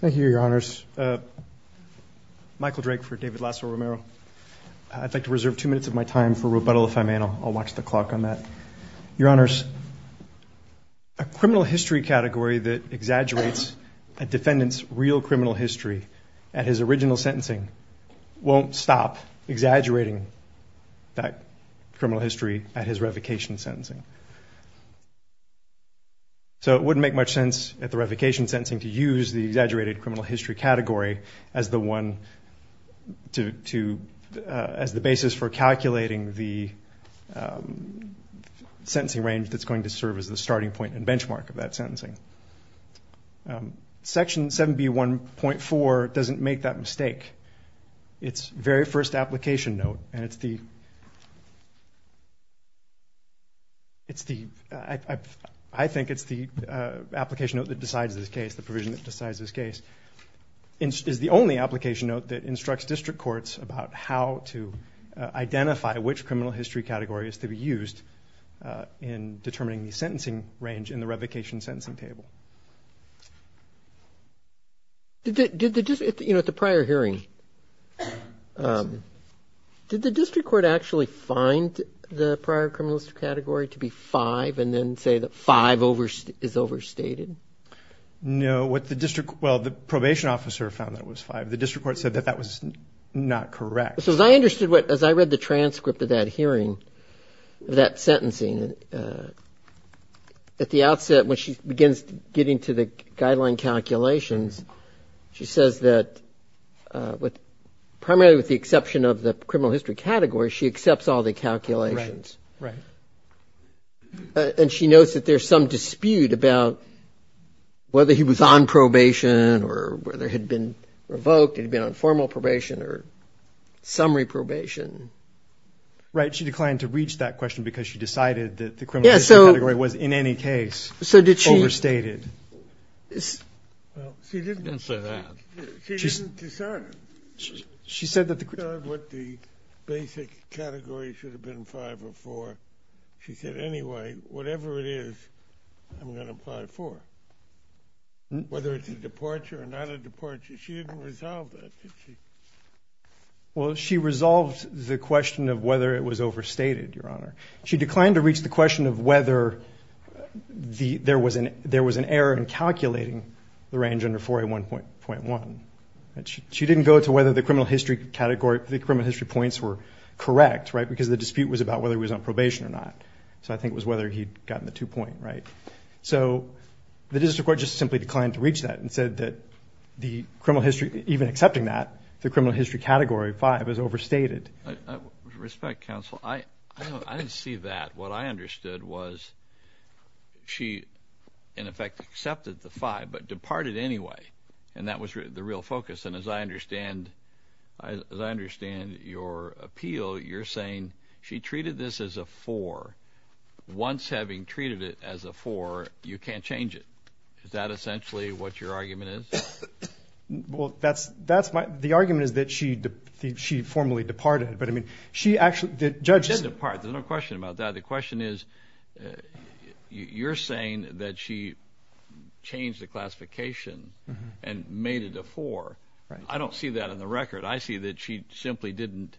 Thank you, your honors. Michael Drake for David Lazo-Romero. I'd like to reserve two minutes of my time for rebuttal if I may, and I'll watch the clock on that. Your honors, a criminal history category that exaggerates a defendant's real criminal history at his original sentencing won't stop exaggerating that criminal history at his revocation sentencing. So it wouldn't make much sense at the revocation sentencing to use the exaggerated criminal history category as the basis for calculating the sentencing range that's going to serve as the starting point and benchmark of that sentencing. Section 7B1.4 doesn't make that mistake. Its very first application note, and I think it's the application note that decides this case, the provision that decides this case, is the only application note that instructs district courts about how to identify which criminal history category is to be used in determining the sentencing range in the revocation sentencing table. Did the district court actually find the prior criminal history category to be 5 and then say that 5 is overstated? No. What the district, well, the probation officer found that it was 5. The district court said that that was not correct. So as I understood what, as I read the transcript of that hearing, that sentencing, at the outset when she begins getting to the guideline calculations, she says that primarily with the exception of the criminal history category, she accepts all the calculations. Right. And she notes that there's some dispute about whether he was on probation or whether he had been revoked, had been on formal probation or summary probation. Right. She declined to reach that question because she decided that the criminal history category was in any case overstated. Well, she didn't say that. She didn't decide it. She said that the criminal history category should have been 5 or 4. She said, anyway, whatever it is, I'm going to apply 4. Whether it's a departure or not a departure, she didn't resolve that, did she? Well, she resolved the question of whether it was overstated, Your Honor. She declined to reach the question of whether there was an error in calculating the range under 4A1.1. She didn't go to whether the criminal history points were correct, right, because the dispute was about whether he was on probation or not. So I think it was whether he'd gotten the two-point, right? So the district court just simply declined to reach that and said that the criminal history, even accepting that, the criminal history category 5 is overstated. With respect, counsel, I didn't see that. What I understood was she, in effect, accepted the 5 but departed anyway, and that was the real focus. And as I understand your appeal, you're saying she treated this as a 4. Once having treated it as a 4, you can't change it. Is that essentially what your argument is? Well, that's my – the argument is that she formally departed, but, I mean, she actually – the judge is – She did depart. There's no question about that. The question is you're saying that she changed the classification and made it a 4. I don't see that in the record. I see that she simply didn't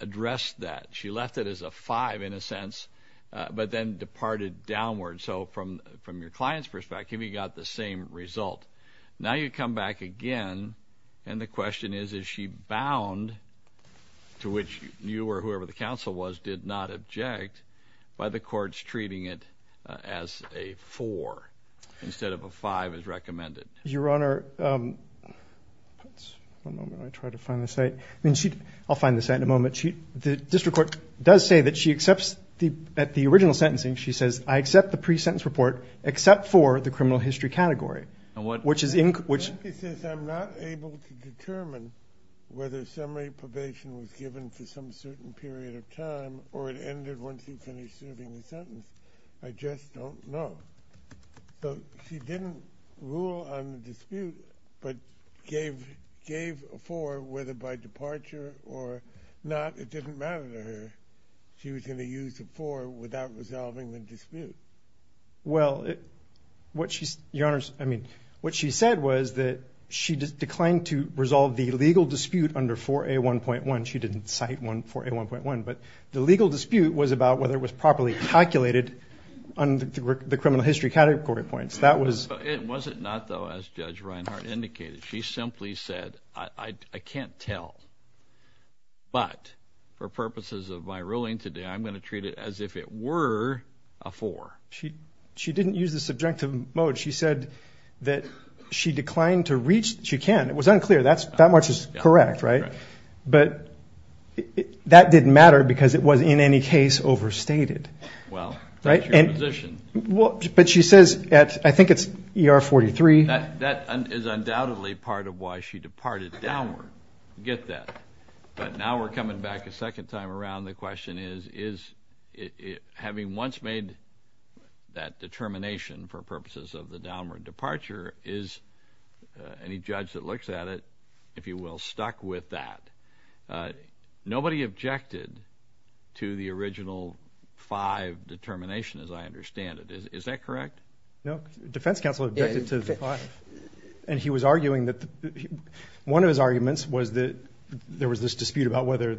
address that. She left it as a 5, in a sense, but then departed downward. So from your client's perspective, you got the same result. Now you come back again, and the question is, is she bound, to which you or whoever the counsel was did not object, by the courts treating it as a 4 instead of a 5 as recommended? Your Honor, one moment. I'll try to find the site. I'll find the site in a moment. The district court does say that she accepts – at the original sentencing, she says, I accept the pre-sentence report except for the criminal history category, which is – She simply says I'm not able to determine whether summary probation was given for some certain period of time or it ended once you finished serving the sentence. I just don't know. So she didn't rule on the dispute but gave a 4 whether by departure or not. It didn't matter to her. She was going to use a 4 without resolving the dispute. Well, what she said was that she declined to resolve the legal dispute under 4A1.1. She didn't cite 4A1.1. But the legal dispute was about whether it was properly calculated under the criminal history category points. It was not, though, as Judge Reinhart indicated. She simply said, I can't tell. But for purposes of my ruling today, I'm going to treat it as if it were a 4. She didn't use the subjective mode. She said that she declined to reach – she can. It was unclear. That much is correct, right? But that didn't matter because it was in any case overstated. Well, that's your position. But she says at – I think it's ER43. That is undoubtedly part of why she departed downward. Get that. But now we're coming back a second time around. The question is, having once made that determination for purposes of the downward departure, is any judge that looks at it, if you will, stuck with that? Nobody objected to the original 5 determination as I understand it. Is that correct? No. Defense counsel objected to the 5. And he was arguing that – one of his arguments was that there was this dispute about whether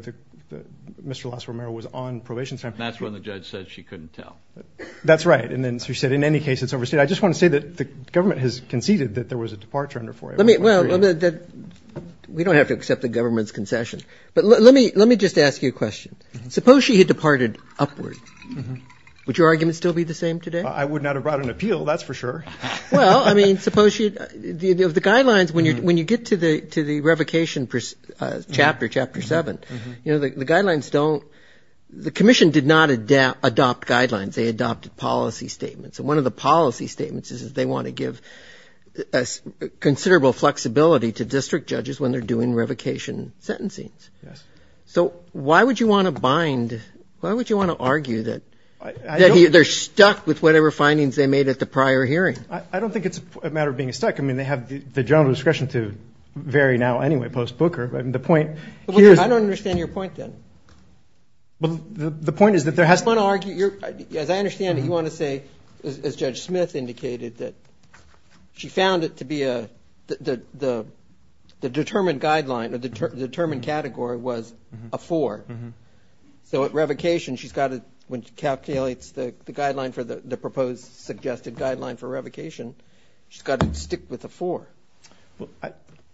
Mr. Lasso Romero was on probation. And that's when the judge said she couldn't tell. That's right. And then she said, in any case, it's overstated. I just want to say that the government has conceded that there was a departure under 4A. Well, we don't have to accept the government's concession. But let me just ask you a question. Suppose she had departed upward. Would your argument still be the same today? I would not have brought an appeal, that's for sure. Well, I mean, suppose she – the guidelines, when you get to the revocation chapter, Chapter 7, you know, the guidelines don't – the commission did not adopt guidelines. They adopted policy statements. And one of the policy statements is they want to give considerable flexibility to district judges when they're doing revocation sentencing. Yes. So why would you want to bind – why would you want to argue that they're stuck with whatever findings they made at the prior hearing? I don't think it's a matter of being stuck. I mean, they have the general discretion to vary now anyway, post-Booker. I mean, the point here is – I don't understand your point, then. Well, the point is that there has to be – You want to argue – as I understand it, you want to say, as Judge Smith indicated, that she found it to be a – the determined guideline, the determined category was a 4. So at revocation, she's got to – when she calculates the guideline for the proposed suggested guideline for revocation, she's got to stick with a 4.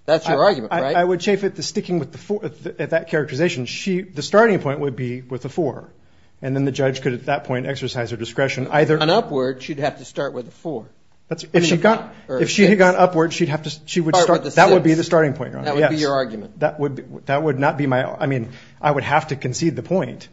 That's your argument, right? I would chafe at the sticking with the 4, at that characterization. She – the starting point would be with a 4. And then the judge could, at that point, exercise her discretion. On Upward, she'd have to start with a 4. If she had gone Upward, she'd have to – she would start – Start with a 6. That would be the starting point, Your Honor. That would be your argument. That would not be my – I mean, I would have to concede the point.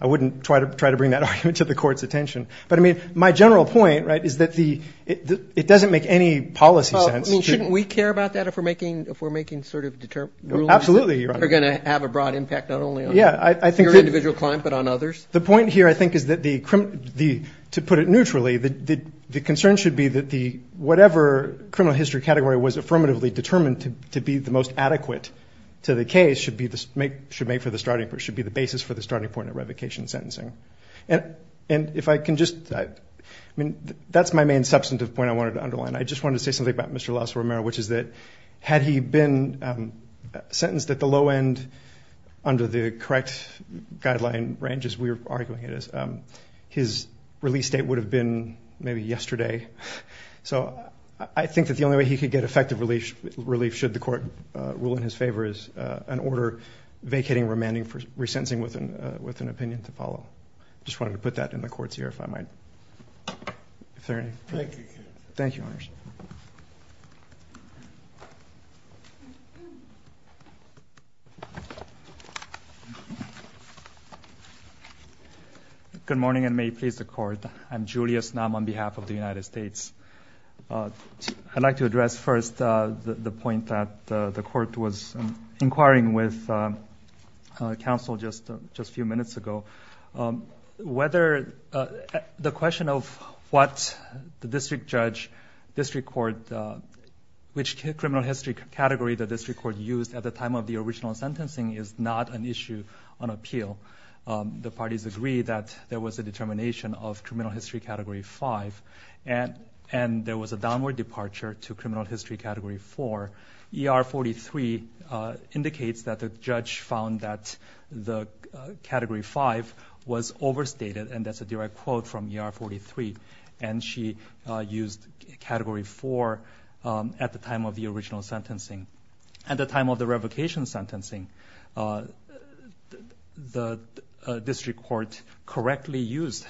I wouldn't try to bring that argument to the Court's attention. But, I mean, my general point, right, is that the – it doesn't make any policy sense to – Well, I mean, shouldn't we care about that if we're making sort of rulings that – Absolutely, Your Honor. – are going to have a broad impact not only on your individual client but on others? The point here, I think, is that the – to put it neutrally, the concern should be that the – whatever criminal history category was affirmatively determined to be the most adequate to the case should be the – should make for the starting – should be the basis for the starting point of revocation sentencing. And if I can just – I mean, that's my main substantive point I wanted to underline. I just wanted to say something about Mr. Lasso Romero, which is that had he been sentenced at the low end under the correct guideline range, as we are arguing it is, his release date would have been maybe yesterday. So I think that the only way he could get effective relief should the Court rule in his favor is an order vacating remanding for resentencing with an opinion to follow. I just wanted to put that in the Court's ear if I might. If there are any – Thank you. Thank you, Your Honor. Good morning, and may it please the Court. I'm Julius Nam on behalf of the United States. I'd like to address first the point that the Court was inquiring with counsel just a few minutes ago. Whether – the question of what the district judge, district court – which criminal history category the district court used at the time of the original sentencing is not an issue on appeal. The parties agree that there was a determination of criminal history category 5, and there was a downward departure to criminal history category 4. ER-43 indicates that the judge found that the category 5 was overstated, and that's a direct quote from ER-43. And she used category 4 at the time of the original sentencing. At the time of the revocation sentencing, the district court correctly used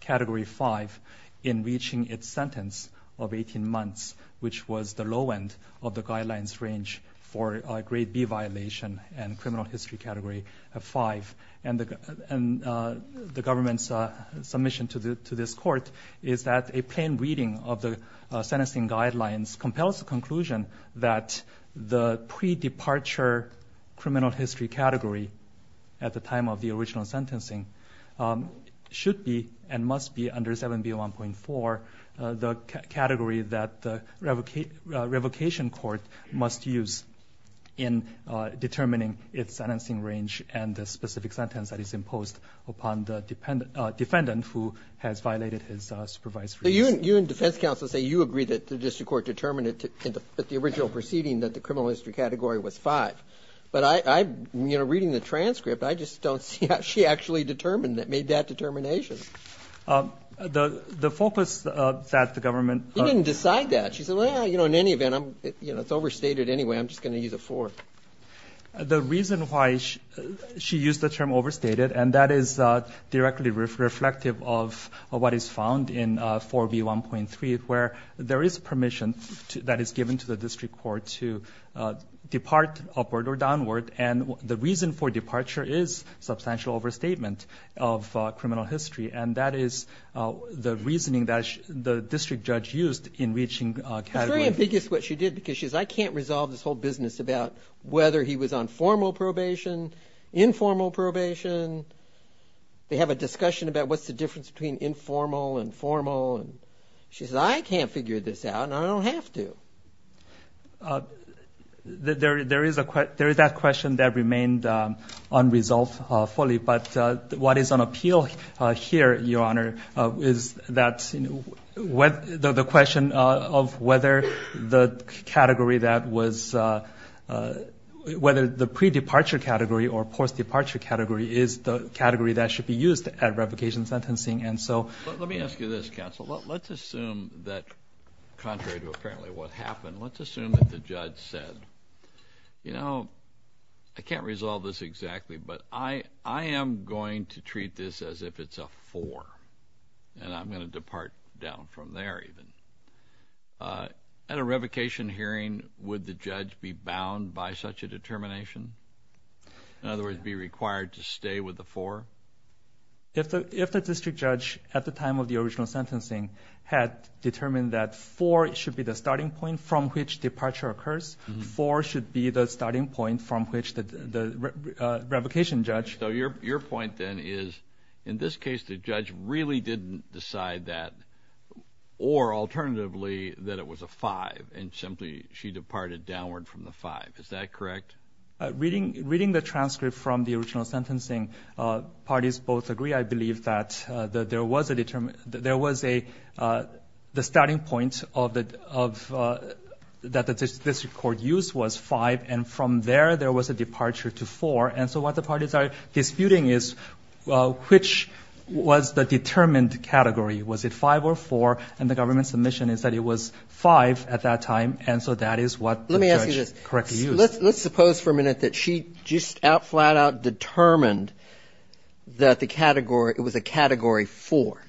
category 5 in reaching its sentence of 18 months, which was the low end of the guidelines range for a grade B violation and criminal history category 5. And the government's submission to this court is that a plain reading of the sentencing guidelines compels the conclusion that the pre-departure criminal history category at the time of the original sentencing should be and must be under 7B1.4, the category that the revocation court must use in determining its sentencing range and the specific sentence that is imposed upon the defendant who has violated his supervised release. So you and defense counsel say you agree that the district court determined at the original proceeding that the criminal history category was 5. But I'm reading the transcript. I just don't see how she actually determined that, made that determination. The focus that the government- She didn't decide that. She said, well, you know, in any event, it's overstated anyway. I'm just going to use a 4. The reason why she used the term overstated, and that is directly reflective of what is found in 4B1.3, where there is permission that is given to the district court to depart upward or downward. And the reason for departure is substantial overstatement of criminal history. And that is the reasoning that the district judge used in reaching category. It's very ambiguous what she did because she says, I can't resolve this whole business about whether he was on formal probation, informal probation. They have a discussion about what's the difference between informal and formal. She says, I can't figure this out and I don't have to. There is that question that remained unresolved fully. But what is on appeal here, Your Honor, is that the question of whether the category that was- whether the pre-departure category or post-departure category is the category that should be used at replication sentencing. And so- Let me ask you this, counsel. Let's assume that contrary to apparently what happened, let's assume that the judge said, you know, I can't resolve this exactly, but I am going to treat this as if it's a 4 and I'm going to depart down from there even. At a revocation hearing, would the judge be bound by such a determination? In other words, be required to stay with the 4? If the district judge at the time of the original sentencing had determined that 4 should be the starting point from which departure occurs, 4 should be the starting point from which the revocation judge- So your point then is in this case the judge really didn't decide that or alternatively that it was a 5 and simply she departed downward from the 5. Is that correct? Reading the transcript from the original sentencing, parties both agree I believe that there was a determination that there was a starting point that the district court used was 5 and from there there was a departure to 4. And so what the parties are disputing is which was the determined category. Was it 5 or 4? And the government's submission is that it was 5 at that time and so that is what the judge correctly used. Let's suppose for a minute that she just out flat out determined that the category, it was a category 4,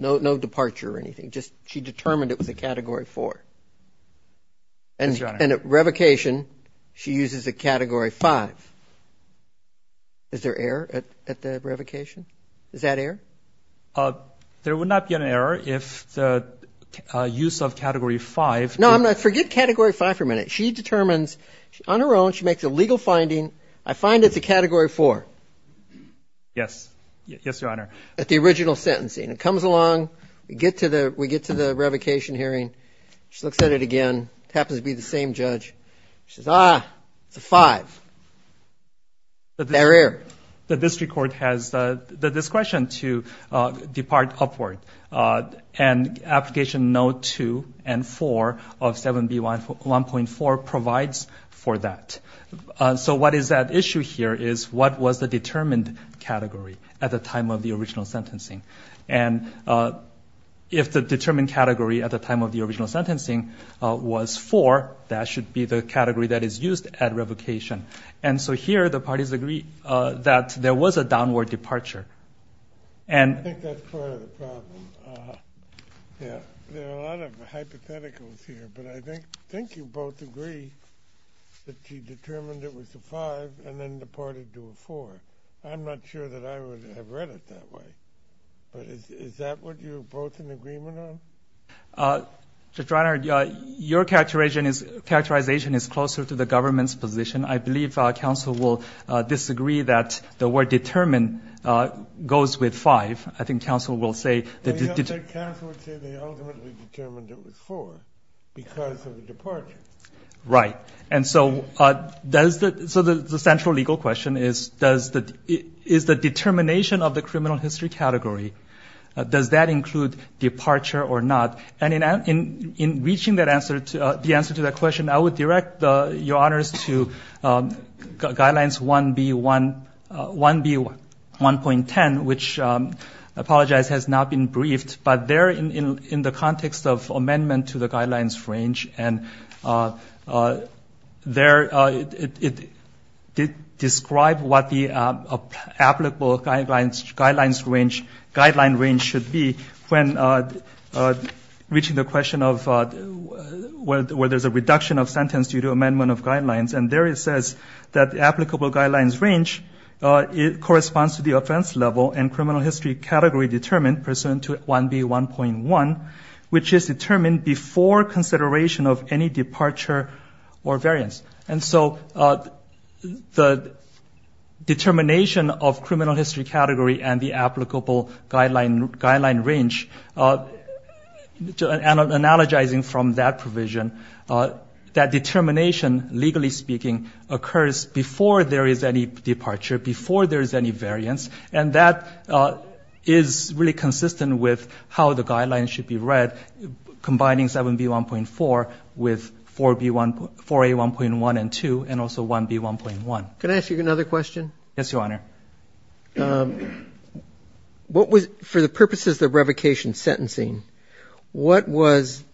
no departure or anything. Just she determined it was a category 4. And at revocation she uses a category 5. Is there error at the revocation? Is that error? There would not be an error if the use of category 5- No, forget category 5 for a minute. She determines on her own, she makes a legal finding. I find it's a category 4. Yes. Yes, Your Honor. At the original sentencing. It comes along, we get to the revocation hearing. She looks at it again. It happens to be the same judge. She says, ah, it's a 5. Is there error? The district court has the discretion to depart upward and application no. 2 and 4 of 7B1.4 provides for that. So what is at issue here is what was the determined category at the time of the original sentencing. And if the determined category at the time of the original sentencing was 4, that should be the category that is used at revocation. And so here the parties agree that there was a downward departure. I think that's part of the problem. There are a lot of hypotheticals here, but I think you both agree that she determined it was a 5 and then departed to a 4. I'm not sure that I would have read it that way. But is that what you're both in agreement on? Judge Reiner, your characterization is closer to the government's position. I believe counsel will disagree that the word determined goes with 5. I think counsel will say that it did. Counsel would say they ultimately determined it was 4 because of the departure. Right. And so the central legal question is, is the determination of the criminal history category, does that include departure or not? And in reaching the answer to that question, I would direct your honors to guidelines 1B.1.10, which I apologize has not been briefed, but they're in the context of amendment to the guidelines range. And they describe what the applicable guidelines range should be when reaching the question of whether there's a reduction of sentence due to amendment of guidelines. And there it says that the applicable guidelines range corresponds to the offense level and criminal history category determined pursuant to 1B.1.1, which is determined before consideration of any departure or variance. And so the determination of criminal history category and the applicable guideline range, analogizing from that provision, that determination, legally speaking, occurs before there is any departure, before there is any variance. And that is really consistent with how the guidelines should be read, combining 7B.1.4 with 4A.1.1 and 2, and also 1B.1.1. Can I ask you another question? Yes, Your Honor. What was, for the purposes of revocation sentencing, what was,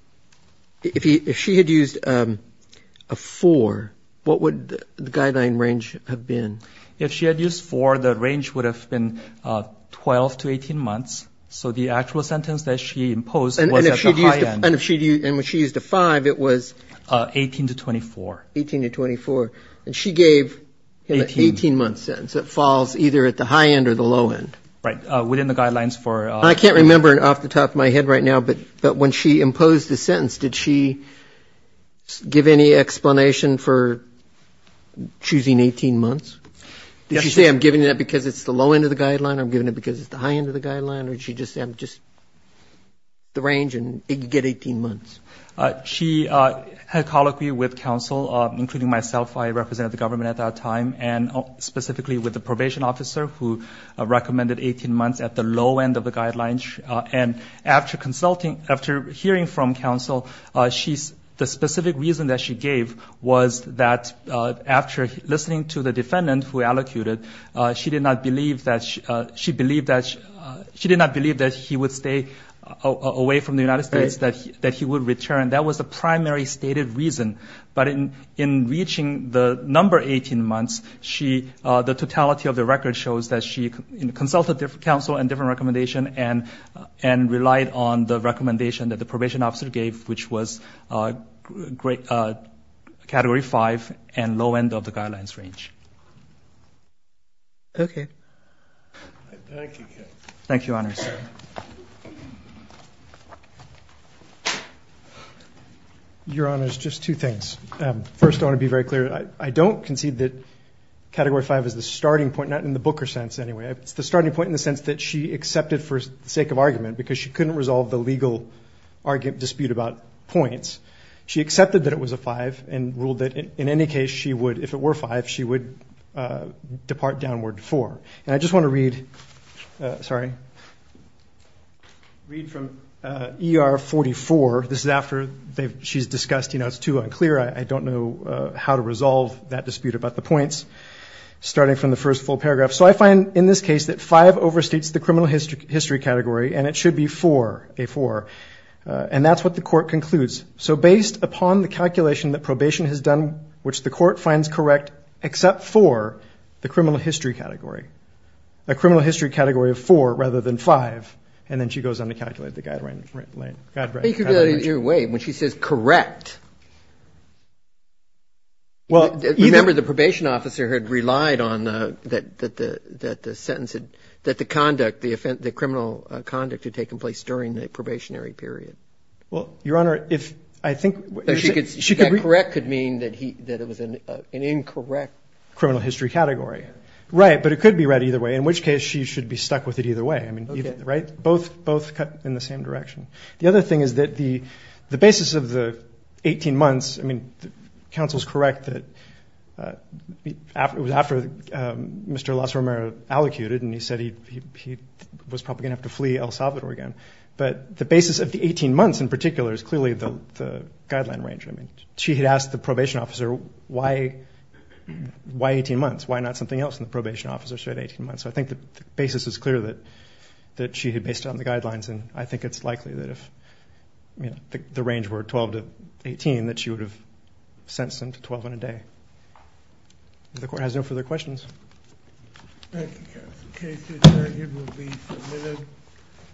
if she had used a 4, what would the guideline range have been? If she had used 4, the range would have been 12 to 18 months. So the actual sentence that she imposed was at the high end. And if she had used a 5, it was? 18 to 24. 18 to 24. And she gave him an 18-month sentence that falls either at the high end or the low end. Right. Within the guidelines for? I can't remember off the top of my head right now, but when she imposed the sentence, did she give any explanation for choosing 18 months? Did she say I'm giving it because it's the low end of the guideline or I'm giving it because it's the high end of the guideline, or did she just say I'm just the range and you get 18 months? She had colloquy with counsel, including myself. I represented the government at that time, and specifically with the probation officer who recommended 18 months at the low end of the guidelines. And after consulting, after hearing from counsel, the specific reason that she gave was that after listening to the defendant who allocated, she did not believe that he would stay away from the United States, that he would return. That was the primary stated reason. But in reaching the number 18 months, the totality of the record shows that she consulted counsel on different recommendations and relied on the recommendation that the probation officer gave, which was Category 5 and low end of the guidelines range. Okay. Thank you. Thank you, Your Honors. Your Honors, just two things. First, I want to be very clear. I don't concede that Category 5 is the starting point, not in the Booker sense anyway. It's the starting point in the sense that she accepted for the sake of argument because she couldn't resolve the legal dispute about points. She accepted that it was a 5 and ruled that in any case she would, if it were 5, she would depart downward to 4. And I just want to read from ER 44. This is after she's discussed, you know, it's too unclear. I don't know how to resolve that dispute about the points, starting from the first full paragraph. So I find in this case that 5 overstates the criminal history category and it should be 4, a 4. And that's what the court concludes. So based upon the calculation that probation has done, which the court finds correct except for the criminal history category, a criminal history category of 4 rather than 5, and then she goes on to calculate the guideline range. Wait, when she says correct. Remember the probation officer had relied on that the sentence, that the conduct, the criminal conduct had taken place during the probationary period. Well, Your Honor, if I think she could read. Correct could mean that it was an incorrect criminal history category. Right. But it could be read either way, in which case she should be stuck with it either way. Right. Both cut in the same direction. The other thing is that the basis of the 18 months, I mean, counsel's correct that it was after Mr. Lasromero allocated and he said he was probably going to have to flee El Salvador again. But the basis of the 18 months in particular is clearly the guideline range. I mean, she had asked the probation officer why 18 months, why not something else and the probation officer said 18 months. So I think the basis is clear that she had based it on the guidelines and I think it's likely that if the range were 12 to 18, that she would have sentenced him to 12 and a day. If the court has no further questions. Thank you, counsel. The case is adjourned. It will be submitted.